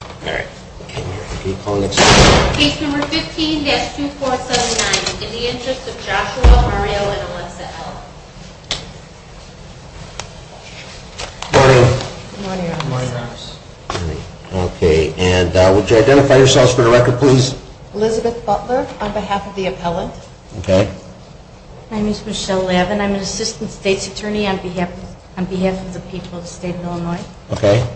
All right. Can you call the next one? Case number 15-2479. In the Interest of Joshua, Ariel, and Alexa L. Good morning. Good morning, Your Honor. Good morning, Your Honor. Okay. And would you identify yourselves for the record, please? Elizabeth Butler, on behalf of the appellant. Okay. My name is Michelle Levin. I'm an Assistant State's Attorney on behalf of the people of the State of Illinois. Okay.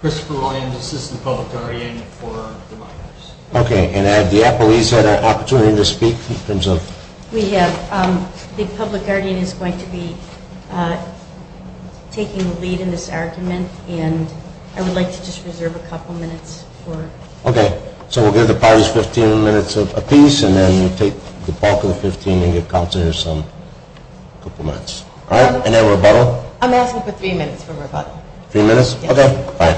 Christopher Williams, Assistant Public Guardian for the Minors. Okay. And have the appellees had an opportunity to speak in terms of? We have. The Public Guardian is going to be taking the lead in this argument, and I would like to just reserve a couple minutes for. Okay. So we'll give the parties 15 minutes apiece, and then we'll take the bulk of the 15 and give Counselors a couple minutes. All right. And then rebuttal? I'm asking for three minutes for rebuttal. Three minutes? Okay. Fine.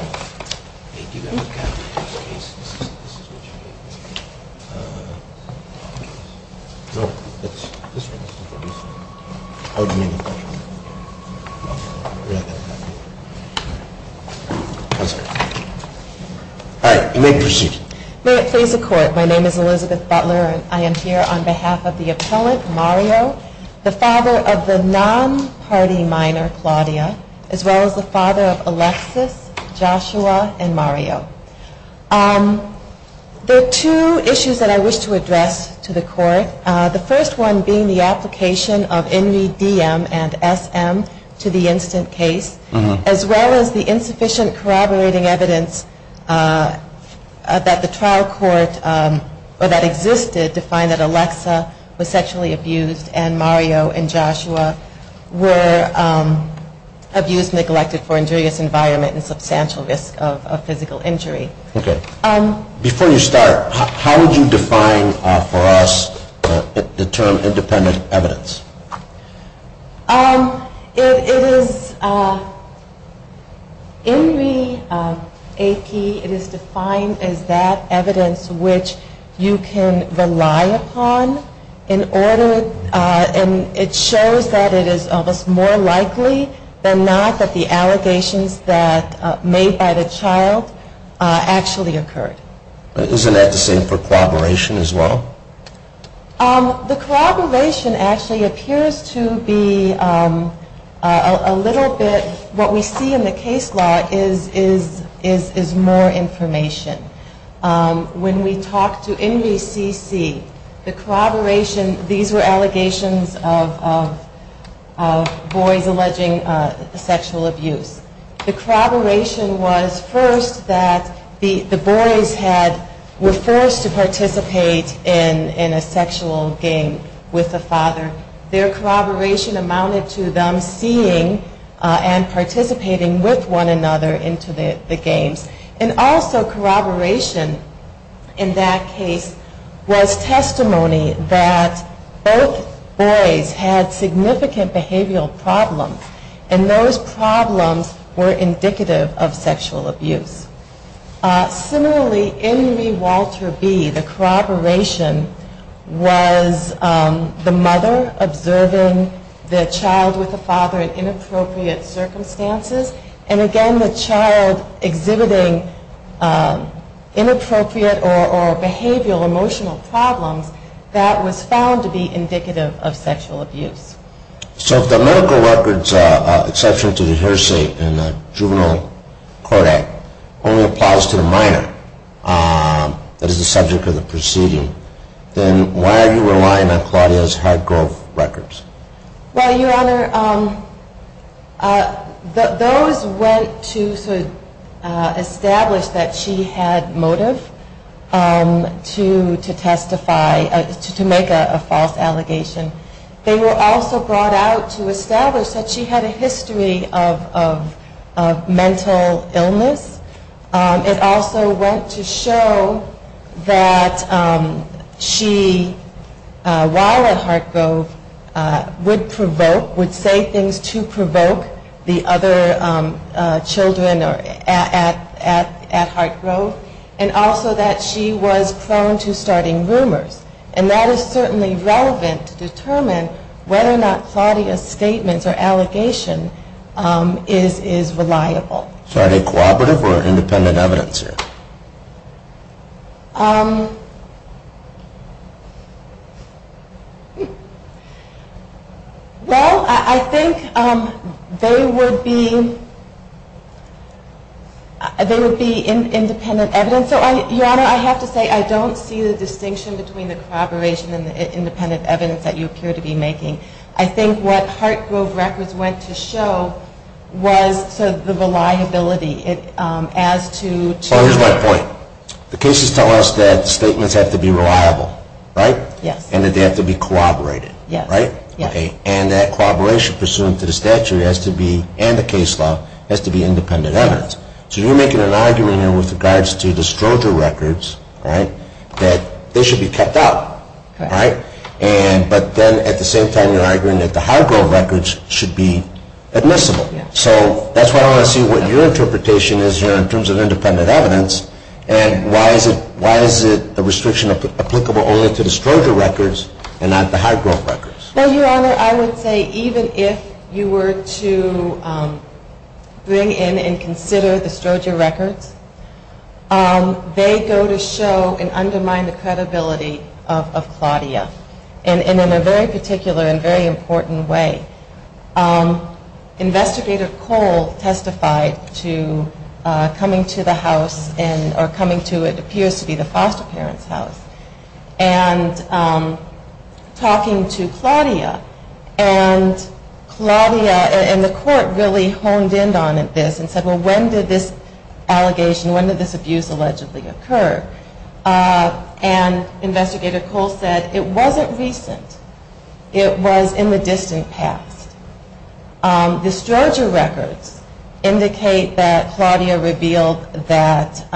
All right. You may proceed. May it please the Court, my name is Elizabeth Butler, and I am here on behalf of the appellant Mario, the father of the non-party minor, Claudia, as well as the father of Alexis, Joshua, and Mario. There are two issues that I wish to address to the Court, the first one being the application of NVDM and SM to the instant case, as well as the insufficient corroborating evidence that the trial court or that existed to find that Alexa was sexually abused and Mario and Joshua were abused, neglected for injurious environment and substantial risk of physical injury. Okay. Before you start, how would you define for us the term independent evidence? It is in the AP, it is defined as that evidence which you can rely upon in order, and it shows that it is almost more likely than not that the allegations that made by the child actually occurred. Isn't that the same for corroboration as well? The corroboration actually appears to be a little bit, what we see in the case law is more information. When we talked to NVCC, the corroboration, these were allegations of boys alleging sexual abuse. The corroboration was first that the boys were forced to participate in a sexual game with the father. Their corroboration amounted to them seeing and participating with one another into the games. And also corroboration in that case was testimony that both boys had significant behavioral problems, and those problems were indicative of sexual abuse. Similarly, in the Walter B, the corroboration was the mother observing the child with the father in inappropriate circumstances, and again the child exhibiting inappropriate or behavioral emotional problems, that was found to be indicative of sexual abuse. So if the medical records exception to the hearsay in the Juvenile Court Act only applies to the minor, that is the subject of the proceeding, then why are you relying on Claudia's Hargrove records? Well, Your Honor, those went to establish that she had motive to testify, to make a false allegation. They were also brought out to establish that she had a history of mental illness. It also went to show that she, while at Hargrove, would provoke, would say things to provoke the other children at Hargrove, and also that she was prone to starting rumors. And that is certainly relevant to determine whether or not Claudia's statements or allegation is reliable. So are they cooperative or independent evidence here? Well, I think they would be independent evidence. Your Honor, I have to say I don't see the distinction between the corroboration and the independent evidence that you appear to be making. I think what Hargrove records went to show was the reliability as to So here's my point. The cases tell us that statements have to be reliable, right? Yes. And that they have to be corroborated, right? Yes. And that corroboration pursuant to the statute has to be, and the case law, has to be independent evidence. So you're making an argument here with regards to the Stroger records, right, that they should be kept out, right? But then at the same time you're arguing that the Hargrove records should be admissible. So that's why I want to see what your interpretation is here in terms of independent evidence and why is it the restriction applicable only to the Stroger records and not the Hargrove records? Well, Your Honor, I would say even if you were to bring in and consider the Stroger records, they go to show and undermine the credibility of Claudia, and in a very particular and very important way. Investigator Cole testified to coming to the house, or coming to what appears to be the foster parent's house, and talking to Claudia, and Claudia, and the court really honed in on this and said, well, when did this allegation, when did this abuse allegedly occur? And Investigator Cole said it wasn't recent, it was in the distant past. The Stroger records indicate that Claudia revealed that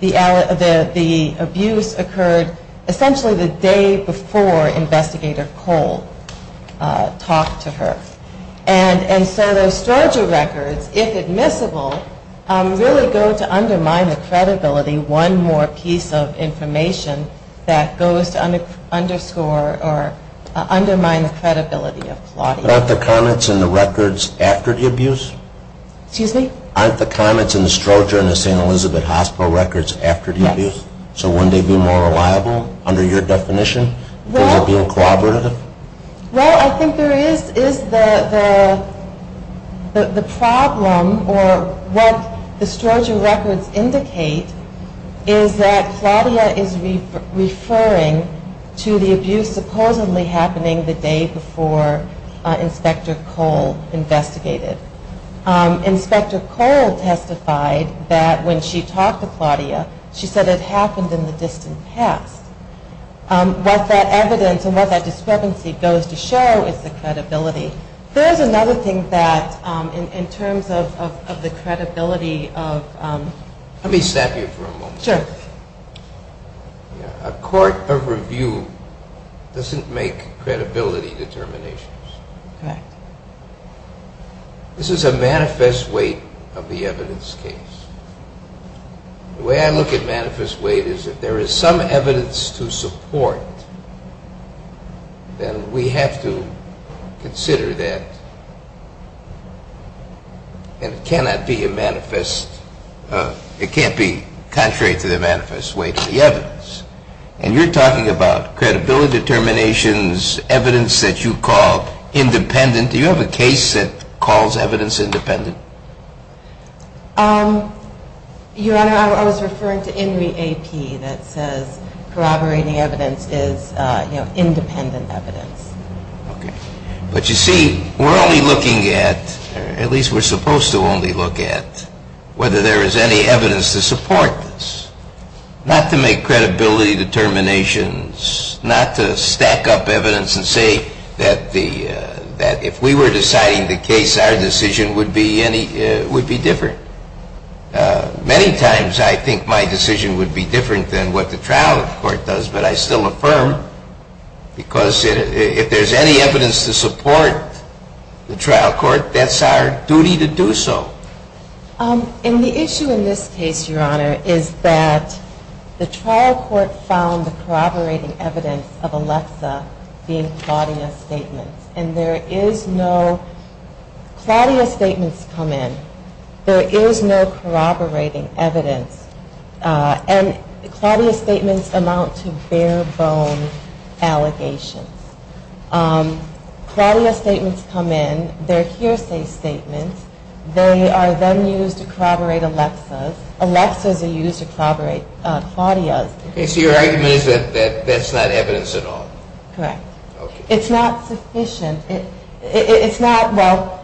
the abuse occurred essentially the day before Investigator Cole talked to her, and so those Stroger records, if admissible, really go to undermine the credibility one more piece of information that goes to underscore or undermine the credibility of Claudia. But aren't the comments in the records after the abuse? Excuse me? Aren't the comments in the Stroger and the St. Elizabeth hospital records after the abuse? So wouldn't they be more reliable under your definition? Well, I think there is the problem, or what the Stroger records indicate, is that Claudia is referring to the abuse supposedly happening the day before Inspector Cole investigated. Inspector Cole testified that when she talked to Claudia, she said it happened in the distant past. What that evidence and what that discrepancy goes to show is the credibility. There is another thing that in terms of the credibility of... Let me stop you for a moment. Sure. A court of review doesn't make credibility determinations. Correct. This is a manifest weight of the evidence case. The way I look at manifest weight is if there is some evidence to support, then we have to consider that it cannot be a manifest... It can't be contrary to the manifest weight of the evidence. And you're talking about credibility determinations, evidence that you call independent. Do you have a case that calls evidence independent? Your Honor, I was referring to INRI AP that says corroborating evidence is independent evidence. Okay. But you see, we're only looking at, or at least we're supposed to only look at, whether there is any evidence to support this, not to make credibility determinations, not to stack up evidence and say that if we were deciding the case, our decision would be different. Many times I think my decision would be different than what the trial court does, but I still affirm because if there's any evidence to support the trial court, that's our duty to do so. And the issue in this case, Your Honor, is that the trial court found the corroborating evidence of Alexa being a Claudia statement. And there is no... Claudia statements come in. There is no corroborating evidence. And Claudia statements amount to bare-bone allegations. Claudia statements come in. They're hearsay statements. They are then used to corroborate Alexa's. Alexa's are used to corroborate Claudia's. So your argument is that that's not evidence at all? Correct. It's not sufficient. It's not... Well,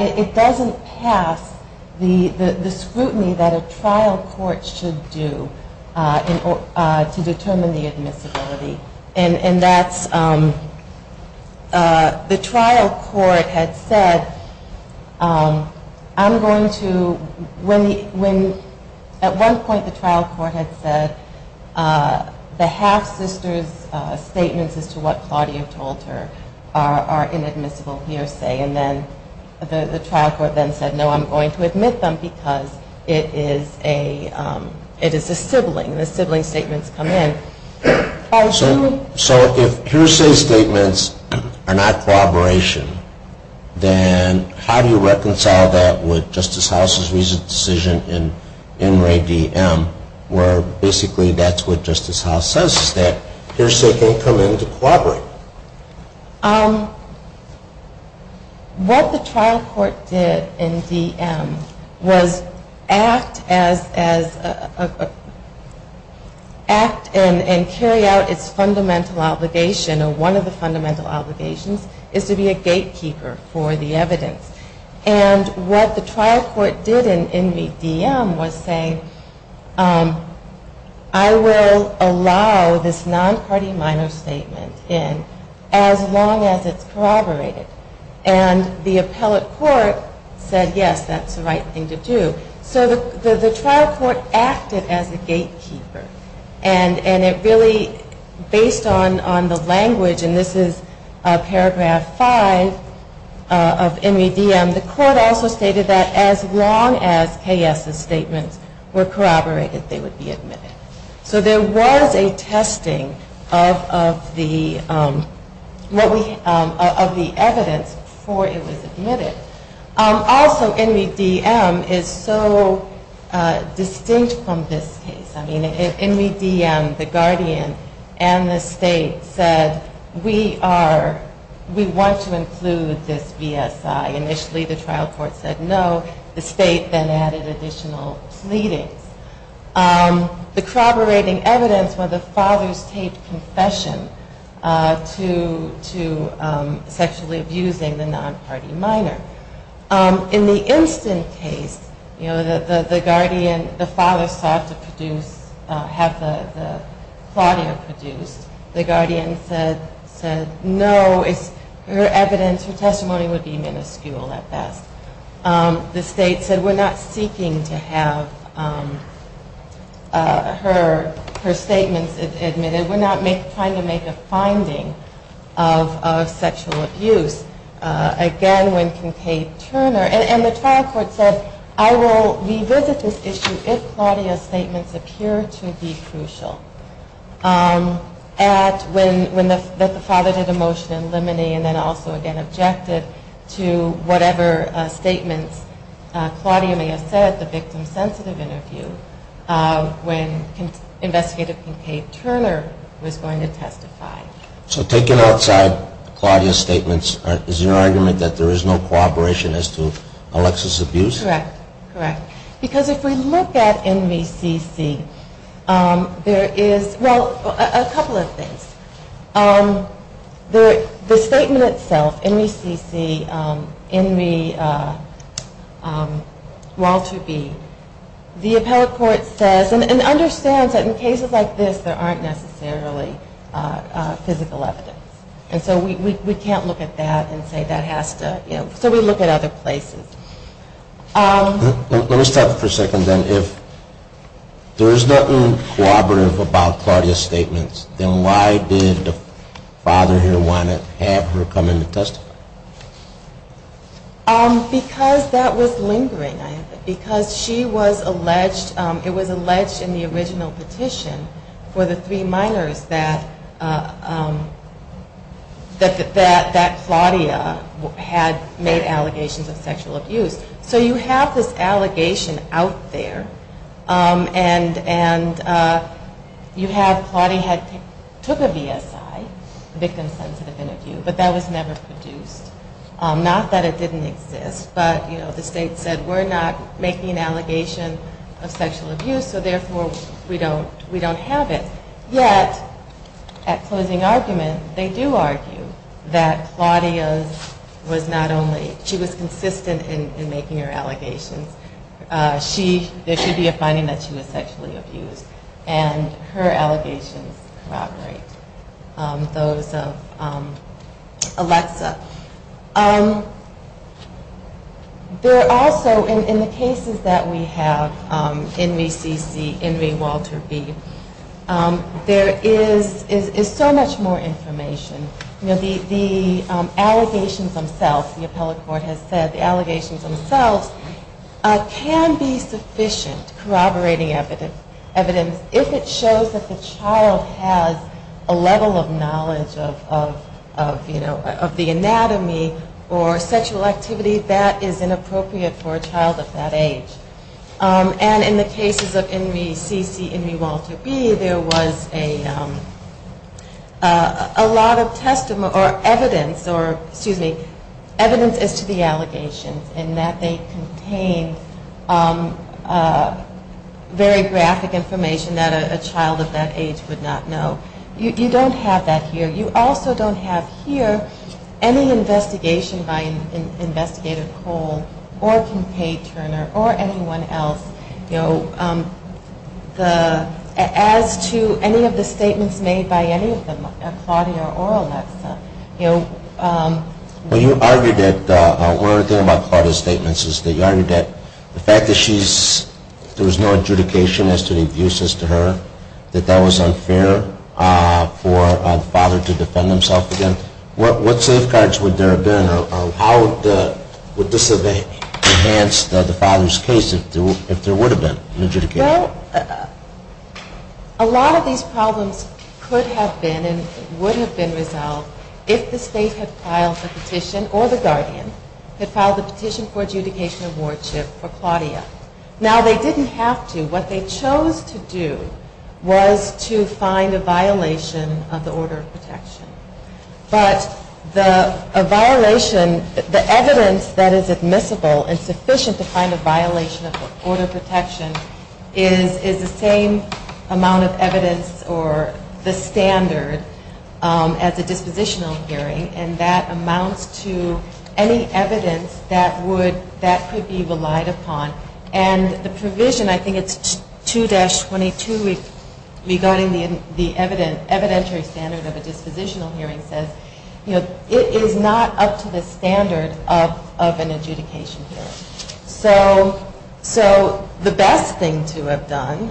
it doesn't pass the scrutiny that a trial court should do to determine the admissibility. And that's... The trial court had said, I'm going to... At one point the trial court had said, the half-sister's statements as to what Claudia told her are inadmissible hearsay. And then the trial court then said, no, I'm going to admit them because it is a sibling. The sibling statements come in. So if hearsay statements are not corroboration, then how do you reconcile that with Justice House's recent decision in NRA DM where basically that's what Justice House says is that hearsay can't come in to corroborate? What the trial court did in DM was act as a... act and carry out its fundamental obligation, or one of the fundamental obligations is to be a gatekeeper for the evidence. And what the trial court did in DM was say, I will allow this non-party minor statement in as long as it's corroborated. And the appellate court said, yes, that's the right thing to do. So the trial court acted as a gatekeeper. And it really, based on the language, and this is paragraph 5 of NRA DM, the court also stated that as long as K.S.'s statements were corroborated, they would be admitted. So there was a testing of the evidence before it was admitted. Also NRA DM is so distinct from this case. In NRA DM, the guardian and the state said, we want to include this VSI. Initially the trial court said no. The state then added additional pleadings. The corroborating evidence was the father's taped confession to sexually abusing the non-party minor. In the instant case, you know, the guardian, the father sought to produce, have Claudia produced. The guardian said, no, her evidence, her testimony would be minuscule at best. The state said, we're not seeking to have her statements admitted. We're not trying to make a finding of sexual abuse. Again, when Kincaid-Turner, and the trial court said, I will revisit this issue if Claudia's statements appear to be crucial. When the father did a motion in limine and then also again objected to whatever statements Claudia may have said, the victim-sensitive interview, when investigative Kincaid-Turner was going to testify. So taken outside Claudia's statements, is your argument that there is no cooperation as to Alexis' abuse? Correct. Because if we look at NVCC, there is, well, a couple of things. The statement itself, NVCC, in the Walter B, the appellate court says, and understands that in cases like this, there aren't necessarily physical evidence. And so we can't look at that and say that has to, you know, so we look at other places. Let me stop for a second then. If there is nothing cooperative about Claudia's statements, then why did the father here want to have her come in to testify? Because that was lingering. Because she was alleged, it was alleged in the original petition for the three minors that Claudia had made allegations of sexual abuse. So you have this allegation out there and you have Claudia took a VSI, victim-sensitive interview, but that was never produced. Not that it didn't exist, but the state said we're not making an allegation of sexual abuse, so therefore we don't have it. Yet, at closing argument, they do argue that Claudia was not only, she was consistent in making her allegations. There should be a finding that she was sexually abused. And her allegations corroborate those of Alexa. There also, in the cases that we have, Enri CC, Enri Walter B, there is so much more information. The allegations themselves, the appellate court has said, the allegations themselves can be sufficient corroborating evidence if it shows that the child has a level of knowledge of the anatomy or sexual activity that is inappropriate for a child of that age. And in the cases of Enri CC, Enri Walter B, there was a lot of evidence, excuse me, evidence as to the allegations and that they contained very graphic information that a child of that age would not know. You don't have that here. You also don't have here any investigation by Investigator Cole or Kincaid Turner or anyone else, you know, as to any of the statements made by any of them, Claudia or Alexa. Well, you argued that, one other thing about Claudia's statements is that you argued that the fact that she's, there was no adjudication as to the abuse as to her, that that was unfair for the father to defend himself again. What safeguards would there have been or how would this have enhanced the father's case if there would have been an adjudication? You know, a lot of these problems could have been and would have been resolved if the state had filed a petition or the guardian had filed a petition for adjudication of wardship for Claudia. Now they didn't have to. What they chose to do was to find a violation of the order of protection. But the violation, the evidence that is admissible and sufficient to find a violation of the order of protection is the same amount of evidence or the standard as a dispositional hearing and that amounts to any evidence that would, that could be relied upon. And the provision, I think it's 2-22 regarding the evidentiary standard of a dispositional hearing says, you know, it is not up to the standard of an adjudication hearing. So the best thing to have done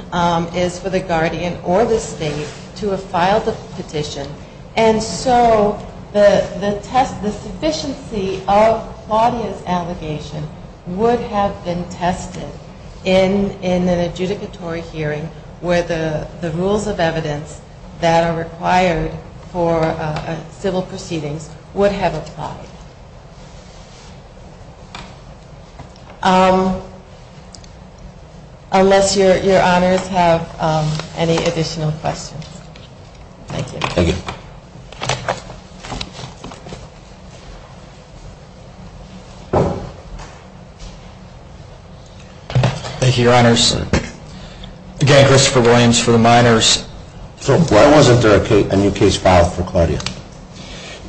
is for the guardian or the state to have filed a petition and so the test, the sufficiency of Claudia's allegation would have been tested in an adjudicatory hearing where the rules of evidence that are required for civil proceedings would have applied. Thank you. Thank you. Thank you. Thank you, your honors. Again, Christopher Williams for the minors. So why wasn't there a new case filed for Claudia?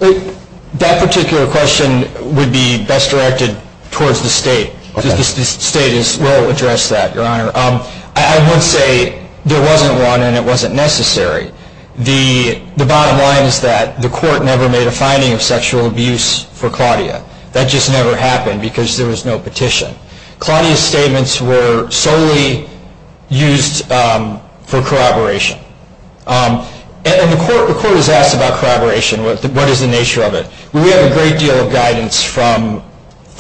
That particular question would be best directed towards the state. The state will address that, your honor. I would say there wasn't one and it wasn't necessary. The bottom line is that the court never made a finding of sexual abuse for Claudia. That just never happened because there was no petition. Claudia's statements were solely used for corroboration. And the court was asked about corroboration, what is the nature of it. We have a great deal of guidance from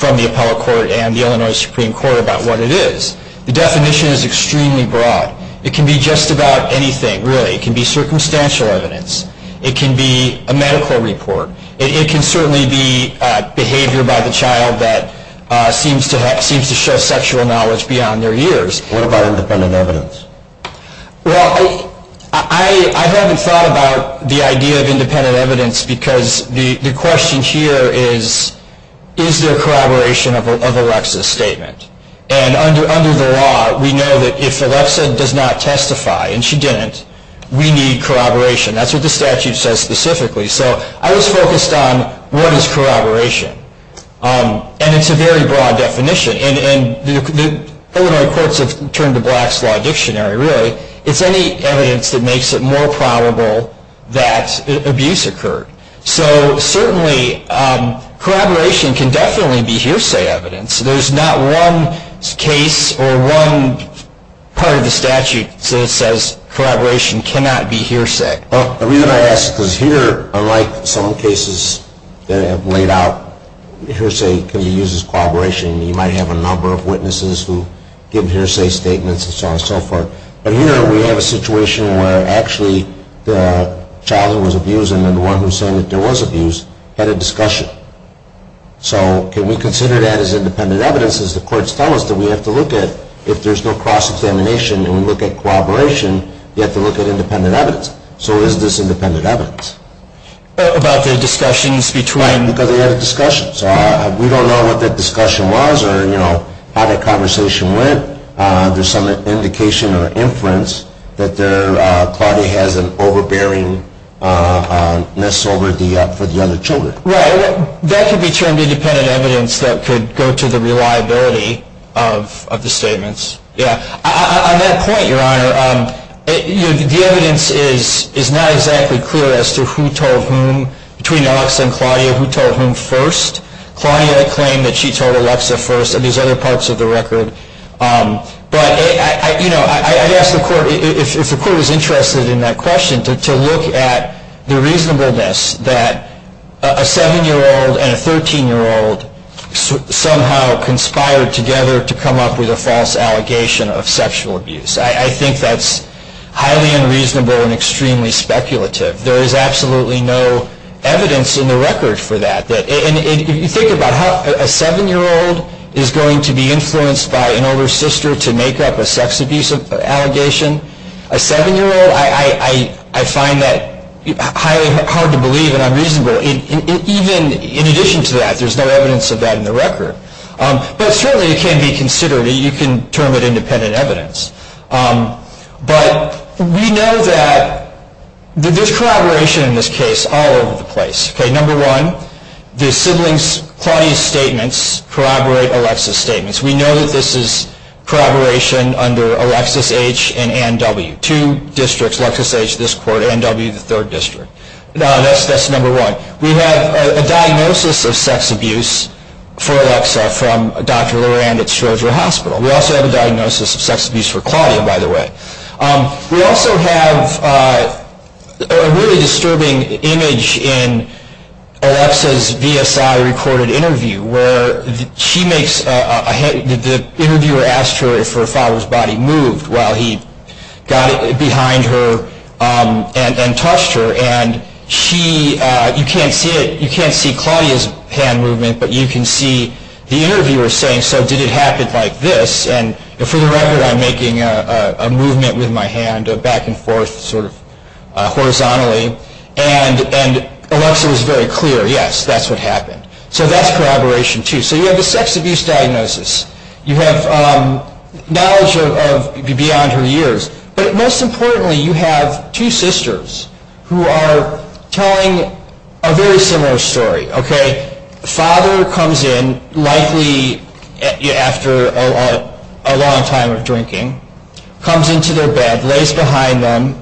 the appellate court and the Illinois Supreme Court about what it is. The definition is extremely broad. It can be just about anything, really. It can be circumstantial evidence. It can be a medical report. It can certainly be behavior by the child that seems to show sexual knowledge beyond their years. What about independent evidence? Well, I haven't thought about the idea of independent evidence because the question here is, is there corroboration of Alexa's statement? And under the law, we know that if Alexa does not testify, and she didn't, we need corroboration. That's what the statute says specifically. So I was focused on what is corroboration. And it's a very broad definition. And the Illinois courts have turned to Black's Law Dictionary, really. It's any evidence that makes it more probable that abuse occurred. So certainly, corroboration can definitely be hearsay evidence. There's not one case or one part of the statute that says corroboration cannot be hearsay. Well, the reason I ask is because here, unlike some cases that have laid out, hearsay can be used as corroboration. You might have a number of witnesses who give hearsay statements and so on and so forth. But here, we have a situation where actually the child that was abused and then the one who said that there was abuse had a discussion. So can we consider that as independent evidence? As the courts tell us that we have to look at, if there's no cross-examination and we look at corroboration, you have to look at independent evidence. So is this independent evidence? About the discussions between? Right, because they had a discussion. So we don't know what that discussion was or how that conversation went. There's some indication or inference that Claudia has an overbearingness for the other children. Right. That could be termed independent evidence that could go to the reliability of the statements. Yeah. On that point, Your Honor, the evidence is not exactly clear as to who told whom. Between Alexa and Claudia, who told whom first? Claudia claimed that she told Alexa first and these other parts of the record. But, you know, I ask the court, if the court is interested in that question, to look at the reasonableness that a 7-year-old and a 13-year-old somehow conspired together to come up with a false allegation of sexual abuse. I think that's highly unreasonable and extremely speculative. There is absolutely no evidence in the record for that. And if you think about how a 7-year-old is going to be influenced by an older sister to make up a sex abuse allegation, a 7-year-old, I find that highly hard to believe and unreasonable. Even in addition to that, there's no evidence of that in the record. But certainly it can be considered, you can term it independent evidence. But we know that there's corroboration in this case all over the place. Okay, number one, the siblings Claudia's statements corroborate Alexa's statements. We know that this is corroboration under Alexis H. and Ann W. Two districts, Alexis H. this court, Ann W. the third district. That's number one. We have a diagnosis of sex abuse for Alexa from Dr. Lorand at Schrodinger Hospital. We also have a diagnosis of sex abuse for Claudia, by the way. We also have a really disturbing image in Alexa's VSI recorded interview where the interviewer asked her if her father's body moved while he got behind her and touched her. And you can't see Claudia's hand movement, but you can see the interviewer saying, so did it happen like this? And for the record, I'm making a movement with my hand back and forth sort of horizontally. And Alexa was very clear, yes, that's what happened. So that's corroboration, too. So you have the sex abuse diagnosis. You have knowledge beyond her years. But most importantly, you have two sisters who are telling a very similar story, okay? The father comes in, likely after a long time of drinking, comes into their bed, lays behind them,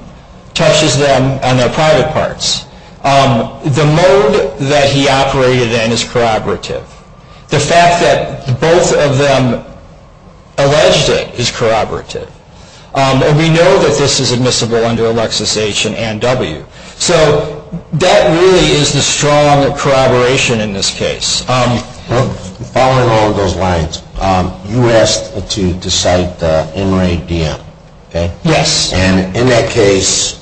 touches them on their private parts. The mode that he operated in is corroborative. The fact that both of them alleged it is corroborative. And we know that this is admissible under Alexis H. and Ann W. So that really is the strong corroboration in this case. Following all of those lines, you asked to cite the inmate DM, okay? Yes. And in that case,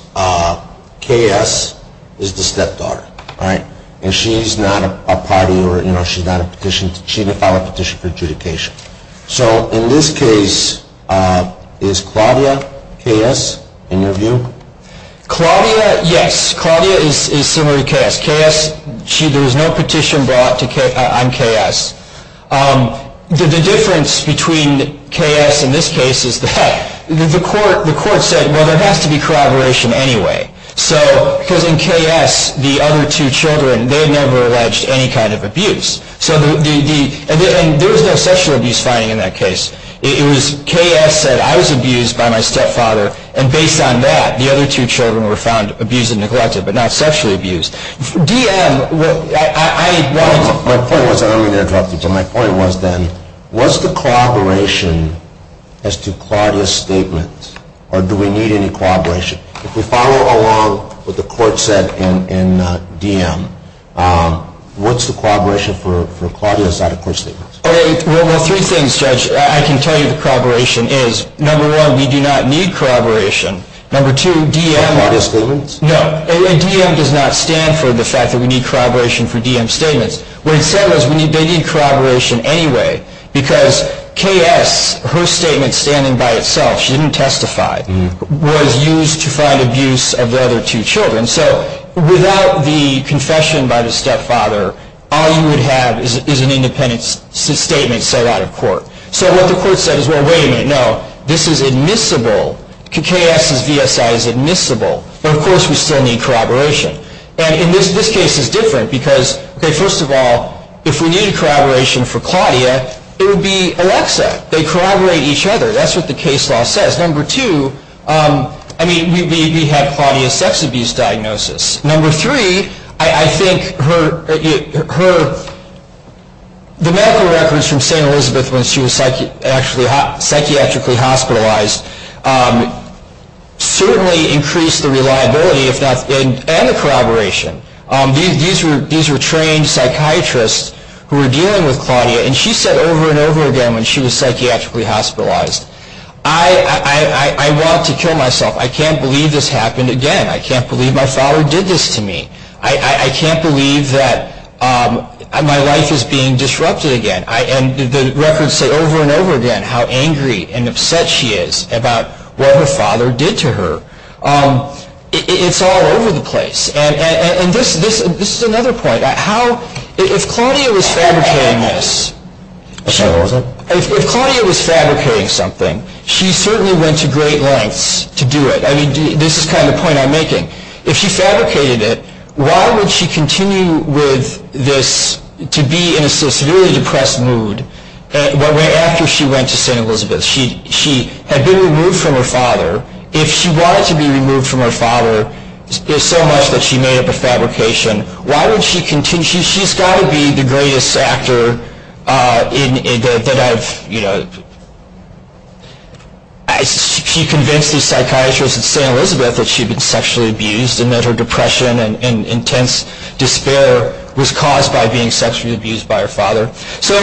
KS is the stepdaughter, all right? And she's not a party or, you know, she didn't file a petition for adjudication. So in this case, is Claudia KS in your view? Claudia, yes. Claudia is similar to KS. KS, there was no petition brought on KS. The difference between KS in this case is that the court said, well, there has to be corroboration anyway. Because in KS, the other two children, they had never alleged any kind of abuse. And there was no sexual abuse finding in that case. KS said, I was abused by my stepfather. And based on that, the other two children were found abused and neglected, but not sexually abused. DM, I want to — My point was, and I don't mean to interrupt you, but my point was then, was the corroboration as to Claudia's statement, or do we need any corroboration? If we follow along what the court said in DM, what's the corroboration for Claudia's side of court statements? Well, there are three things, Judge. I can tell you what the corroboration is. Number one, we do not need corroboration. Number two, DM — Corroborated statements? No. DM does not stand for the fact that we need corroboration for DM statements. What it said was they need corroboration anyway. Because KS, her statement standing by itself, she didn't testify, was used to find abuse of the other two children. So without the confession by the stepfather, all you would have is an independent statement set out of court. So what the court said is, well, wait a minute, no. This is admissible. KS's VSI is admissible. But, of course, we still need corroboration. And this case is different because, okay, first of all, if we needed corroboration for Claudia, it would be Alexa. They corroborate each other. That's what the case law says. Number two, I mean, we had Claudia's sex abuse diagnosis. Number three, I think the medical records from St. Elizabeth when she was actually psychiatrically hospitalized certainly increased the reliability and the corroboration. These were trained psychiatrists who were dealing with Claudia, and she said over and over again when she was psychiatrically hospitalized, I want to kill myself. I can't believe this happened again. I can't believe my father did this to me. I can't believe that my life is being disrupted again. And the records say over and over again how angry and upset she is about what her father did to her. It's all over the place. And this is another point. If Claudia was fabricating this, if Claudia was fabricating something, she certainly went to great lengths to do it. I mean, this is kind of the point I'm making. If she fabricated it, why would she continue with this to be in a severely depressed mood after she went to St. Elizabeth? She had been removed from her father. If she wanted to be removed from her father so much that she made up a fabrication, why would she continue? She's got to be the greatest actor. She convinced these psychiatrists at St. Elizabeth that she had been sexually abused and that her depression and intense despair was caused by being sexually abused by her father. So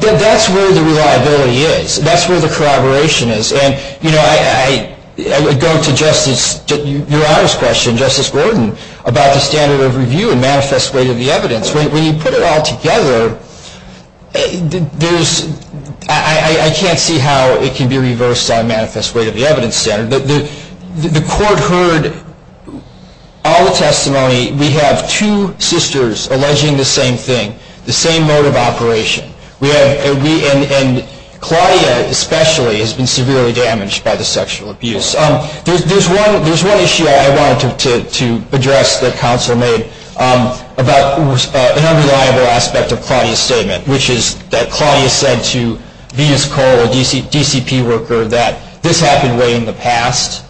that's where the reliability is. That's where the corroboration is. I would go to Justice Gordon about the standard of review and manifest weight of the evidence. When you put it all together, I can't see how it can be reversed on manifest weight of the evidence standard. The court heard all the testimony. We have two sisters alleging the same thing, the same mode of operation. Claudia, especially, has been severely damaged by the sexual abuse. There's one issue I wanted to address that counsel made about an unreliable aspect of Claudia's statement, which is that Claudia said to Venus Cole, a DCP worker, that this happened way in the past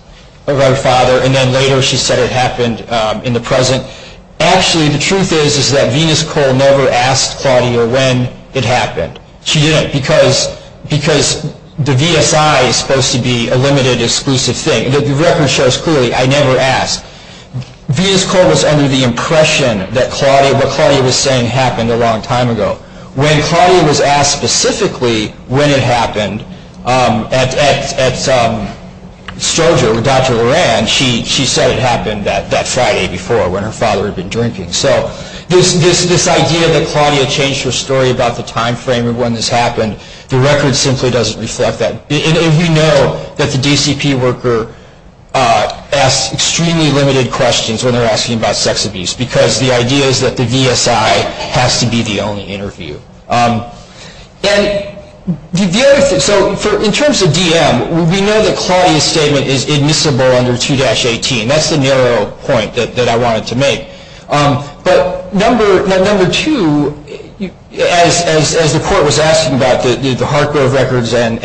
of her father, and then later she said it happened in the present. Actually, the truth is that Venus Cole never asked Claudia when it happened. She didn't, because the VSI is supposed to be a limited, exclusive thing. The record shows clearly, I never asked. Venus Cole was under the impression that what Claudia was saying happened a long time ago. When Claudia was asked specifically when it happened at Stroger with Dr. Loran, she said it happened that Friday before, when her father had been drinking. So this idea that Claudia changed her story about the time frame of when this happened, the record simply doesn't reflect that. And we know that the DCP worker asks extremely limited questions when they're asking about sex abuse, because the idea is that the VSI has to be the only interview. So in terms of DM, we know that Claudia's statement is admissible under 2-18. That's the narrow point that I wanted to make. But number two, as the court was asking about the Hargrove records and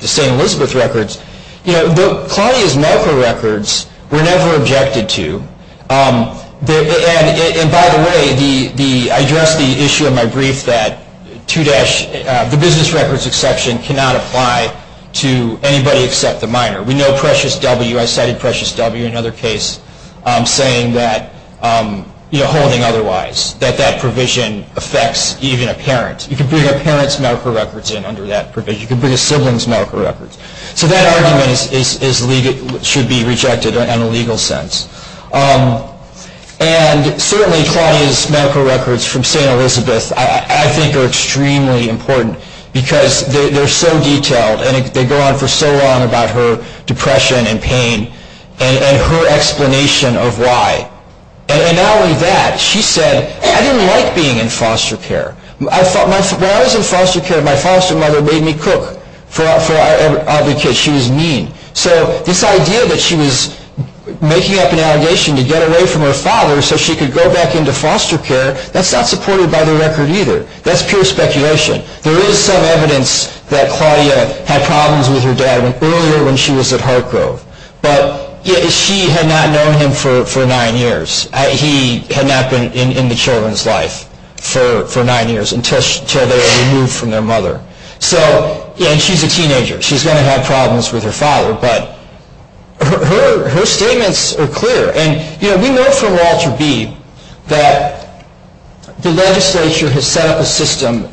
the St. Elizabeth records, Claudia's medical records were never objected to. And by the way, I addressed the issue in my brief that the business records exception cannot apply to anybody except the minor. We know Precious W. I cited Precious W in another case holding otherwise, that that provision affects even a parent. You can bring a parent's medical records in under that provision. You can bring a sibling's medical records. So that argument should be rejected in a legal sense. And certainly Claudia's medical records from St. Elizabeth I think are extremely important, because they're so detailed and they go on for so long about her depression and pain and her explanation of why. And not only that, she said, I didn't like being in foster care. When I was in foster care, my foster mother made me cook for our other kids. She was mean. So this idea that she was making up an allegation to get away from her father so she could go back into foster care, that's not supported by the record either. That's pure speculation. There is some evidence that Claudia had problems with her dad earlier when she was at Hargrove. But she had not known him for nine years. He had not been in the children's life for nine years until they were removed from their mother. And she's a teenager. She's going to have problems with her father. But her statements are clear. And we know from Walter B that the legislature has set up a system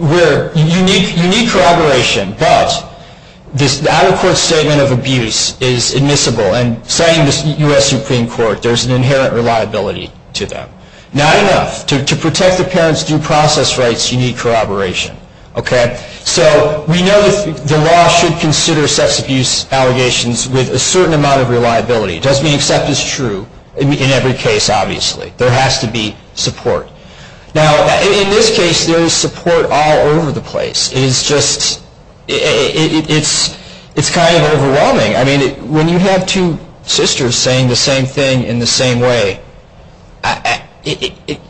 where you need corroboration, but this out-of-court statement of abuse is admissible. And citing the U.S. Supreme Court, there's an inherent reliability to that. Not enough. To protect the parents' due process rights, you need corroboration. So we know that the law should consider sex abuse allegations with a certain amount of reliability. It doesn't mean except is true in every case, obviously. There has to be support. Now, in this case, there is support all over the place. It's kind of overwhelming. When you have two sisters saying the same thing in the same way, it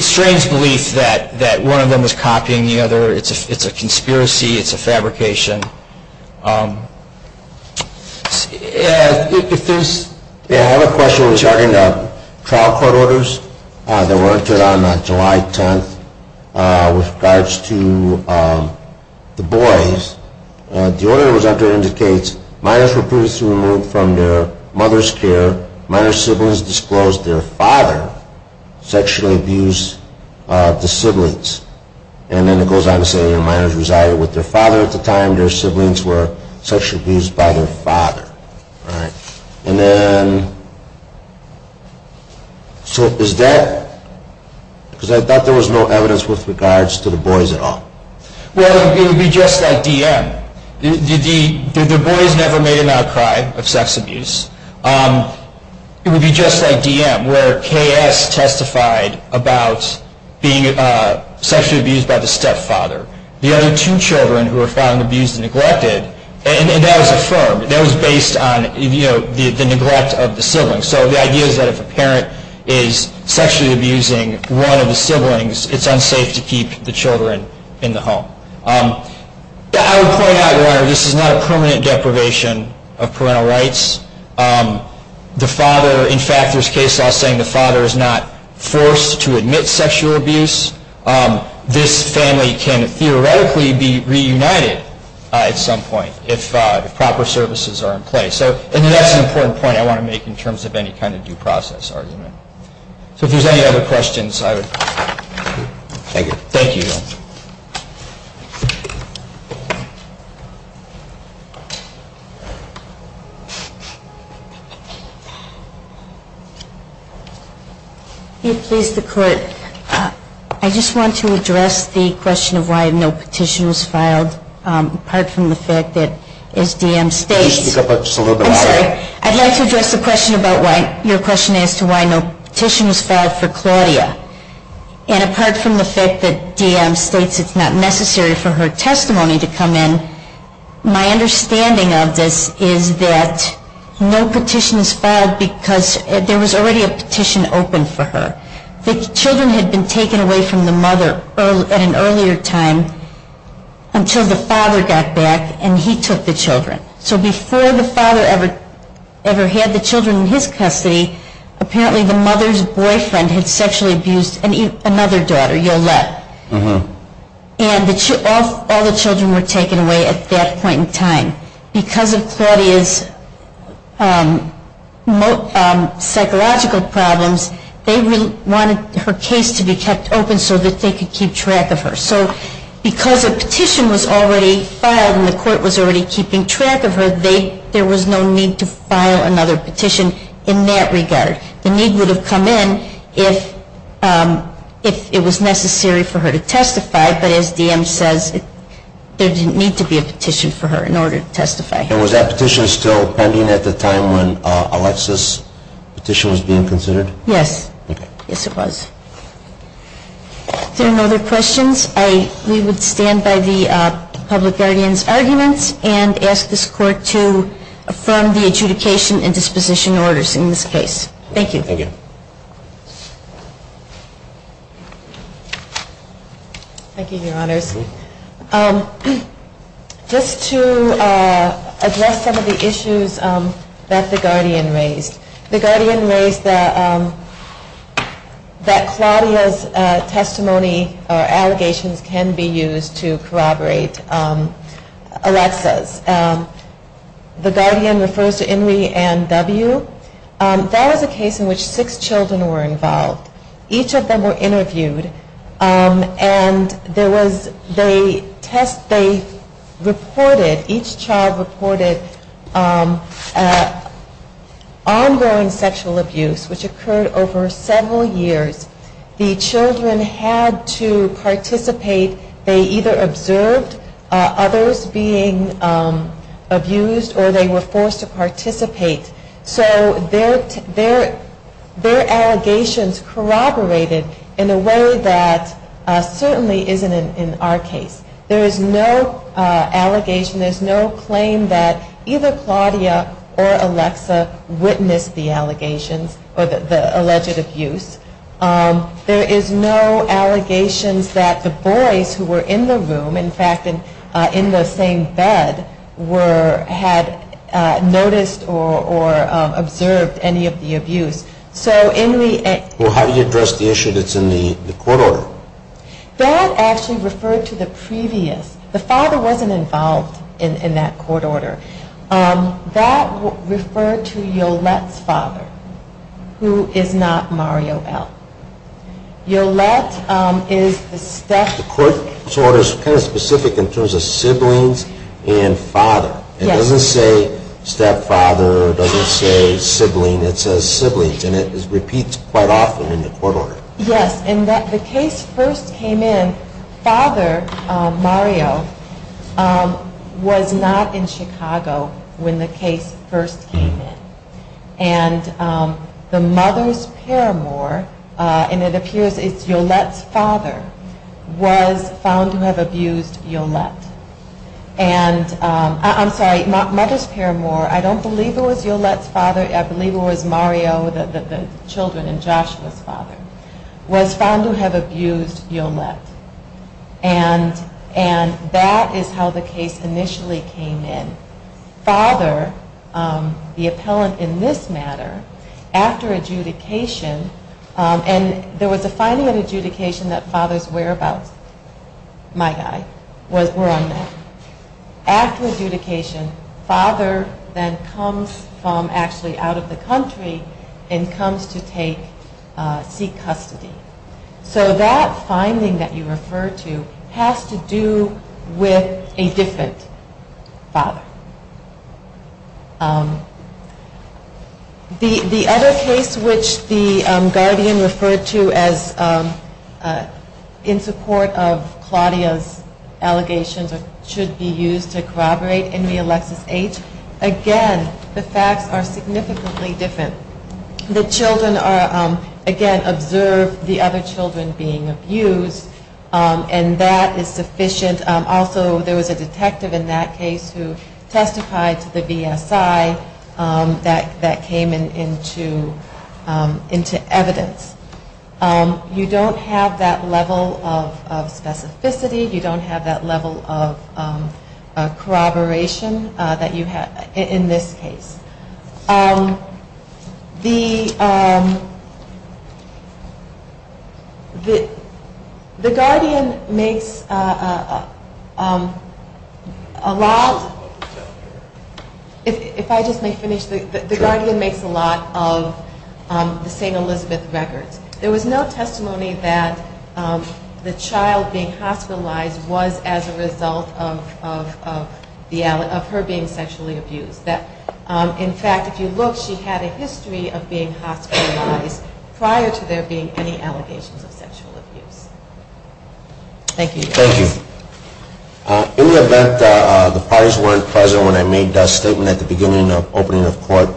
strains belief that one of them is copying the other. It's a conspiracy. It's a fabrication. I have a question regarding the trial court orders that were entered on July 10th with regards to the boys. The order that was entered indicates minors were previously removed from their mother's care, minor siblings disclosed their father sexually abused the siblings. And then it goes on to say minors resided with their father at the time their siblings were sexually abused by their father. All right. And then, so is that, because I thought there was no evidence with regards to the boys at all. Well, it would be just like DM. The boys never made an outcry of sex abuse. It would be just like DM, where KS testified about being sexually abused by the stepfather. The other two children who were found abused and neglected, and that was affirmed. That was based on, you know, the neglect of the siblings. So the idea is that if a parent is sexually abusing one of the siblings, it's unsafe to keep the children in the home. I would point out, Your Honor, this is not a permanent deprivation of parental rights. In fact, there's case law saying the father is not forced to admit sexual abuse. This family can theoretically be reunited at some point if proper services are in place. And that's an important point I want to make in terms of any kind of due process argument. So if there's any other questions, I would. Thank you. Thank you, Your Honor. If you please, the Court. I just want to address the question of why no petition was filed, apart from the fact that as DM states. Could you speak up just a little bit more? I'm sorry. I'd like to address the question about why, your question as to why no petition was filed for Claudia. And apart from the fact that DM states it's not necessary for her testimony to come in, my understanding of this is that no petition was filed because there was already a petition open for her. The children had been taken away from the mother at an earlier time until the father got back and he took the children. So before the father ever had the children in his custody, apparently the mother's boyfriend had sexually abused another daughter, Yolette. And all the children were taken away at that point in time. Because of Claudia's psychological problems, they wanted her case to be kept open so that they could keep track of her. So because a petition was already filed and the Court was already keeping track of her, there was no need to file another petition in that regard. The need would have come in if it was necessary for her to testify. But as DM says, there didn't need to be a petition for her in order to testify. And was that petition still pending at the time when Alexis' petition was being considered? Yes. Okay. Yes, it was. If there are no other questions, we would stand by the public guardian's arguments and ask this Court to affirm the adjudication and disposition orders in this case. Thank you. Thank you. Thank you, Your Honors. Just to address some of the issues that the guardian raised. The guardian raised that Claudia's testimony or allegations can be used to corroborate Alexis'. The guardian refers to Inri and W. That was a case in which six children were involved. Each of them were interviewed. And each child reported ongoing sexual abuse, which occurred over several years. The children had to participate. They either observed others being abused or they were forced to participate. So their allegations corroborated in a way that certainly isn't in our case. There is no allegation, there is no claim that either Claudia or Alexis witnessed the allegations or the alleged abuse. There is no allegations that the boys who were in the room, in fact in the same bed, had noticed or observed any of the abuse. How do you address the issue that's in the court order? That actually referred to the previous. The father wasn't involved in that court order. That referred to Yolette's father, who is not Mario L. Yolette is the stepfather. The court order is kind of specific in terms of siblings and father. It doesn't say stepfather, it doesn't say sibling, it says siblings. And it repeats quite often in the court order. Yes, and the case first came in, father Mario was not in Chicago when the case first came in. And the mother's paramour, and it appears it's Yolette's father, was found to have abused Yolette. And, I'm sorry, mother's paramour, I don't believe it was Yolette's father, I believe it was Mario, the children, and Joshua's father, was found to have abused Yolette. And that is how the case initially came in. Father, the appellant in this matter, after adjudication, and there was a finding in adjudication that father's whereabouts, my guy, were unknown. After adjudication, father then comes from actually out of the country and comes to seek custody. So that finding that you refer to has to do with a different father. The other case which the guardian referred to as in support of Claudia's allegations should be used to corroborate in the Alexis H. Again, the facts are significantly different. The children are, again, observed, the other children being abused, and that is sufficient. Also, there was a detective in that case who testified to the BSI that came into evidence. You don't have that level of specificity, you don't have that level of corroboration that you have in this case. The guardian makes a lot of the St. Elizabeth records. There was no testimony that the child being hospitalized was as a result of her being sexually abused. In fact, if you look, she had a history of being hospitalized prior to there being any allegations of sexual abuse. Thank you. Thank you. In the event that the parties weren't present when I made that statement at the beginning of opening of court,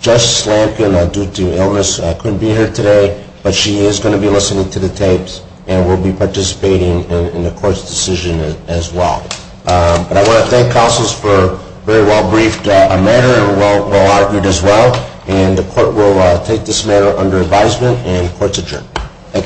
Justice Lankin, due to illness, couldn't be here today, but she is going to be listening to the tapes and will be participating in the court's decision as well. I want to thank counsels for a very well-briefed matter and well-argued as well. The court will take this matter under advisement and the court is adjourned. Thank you.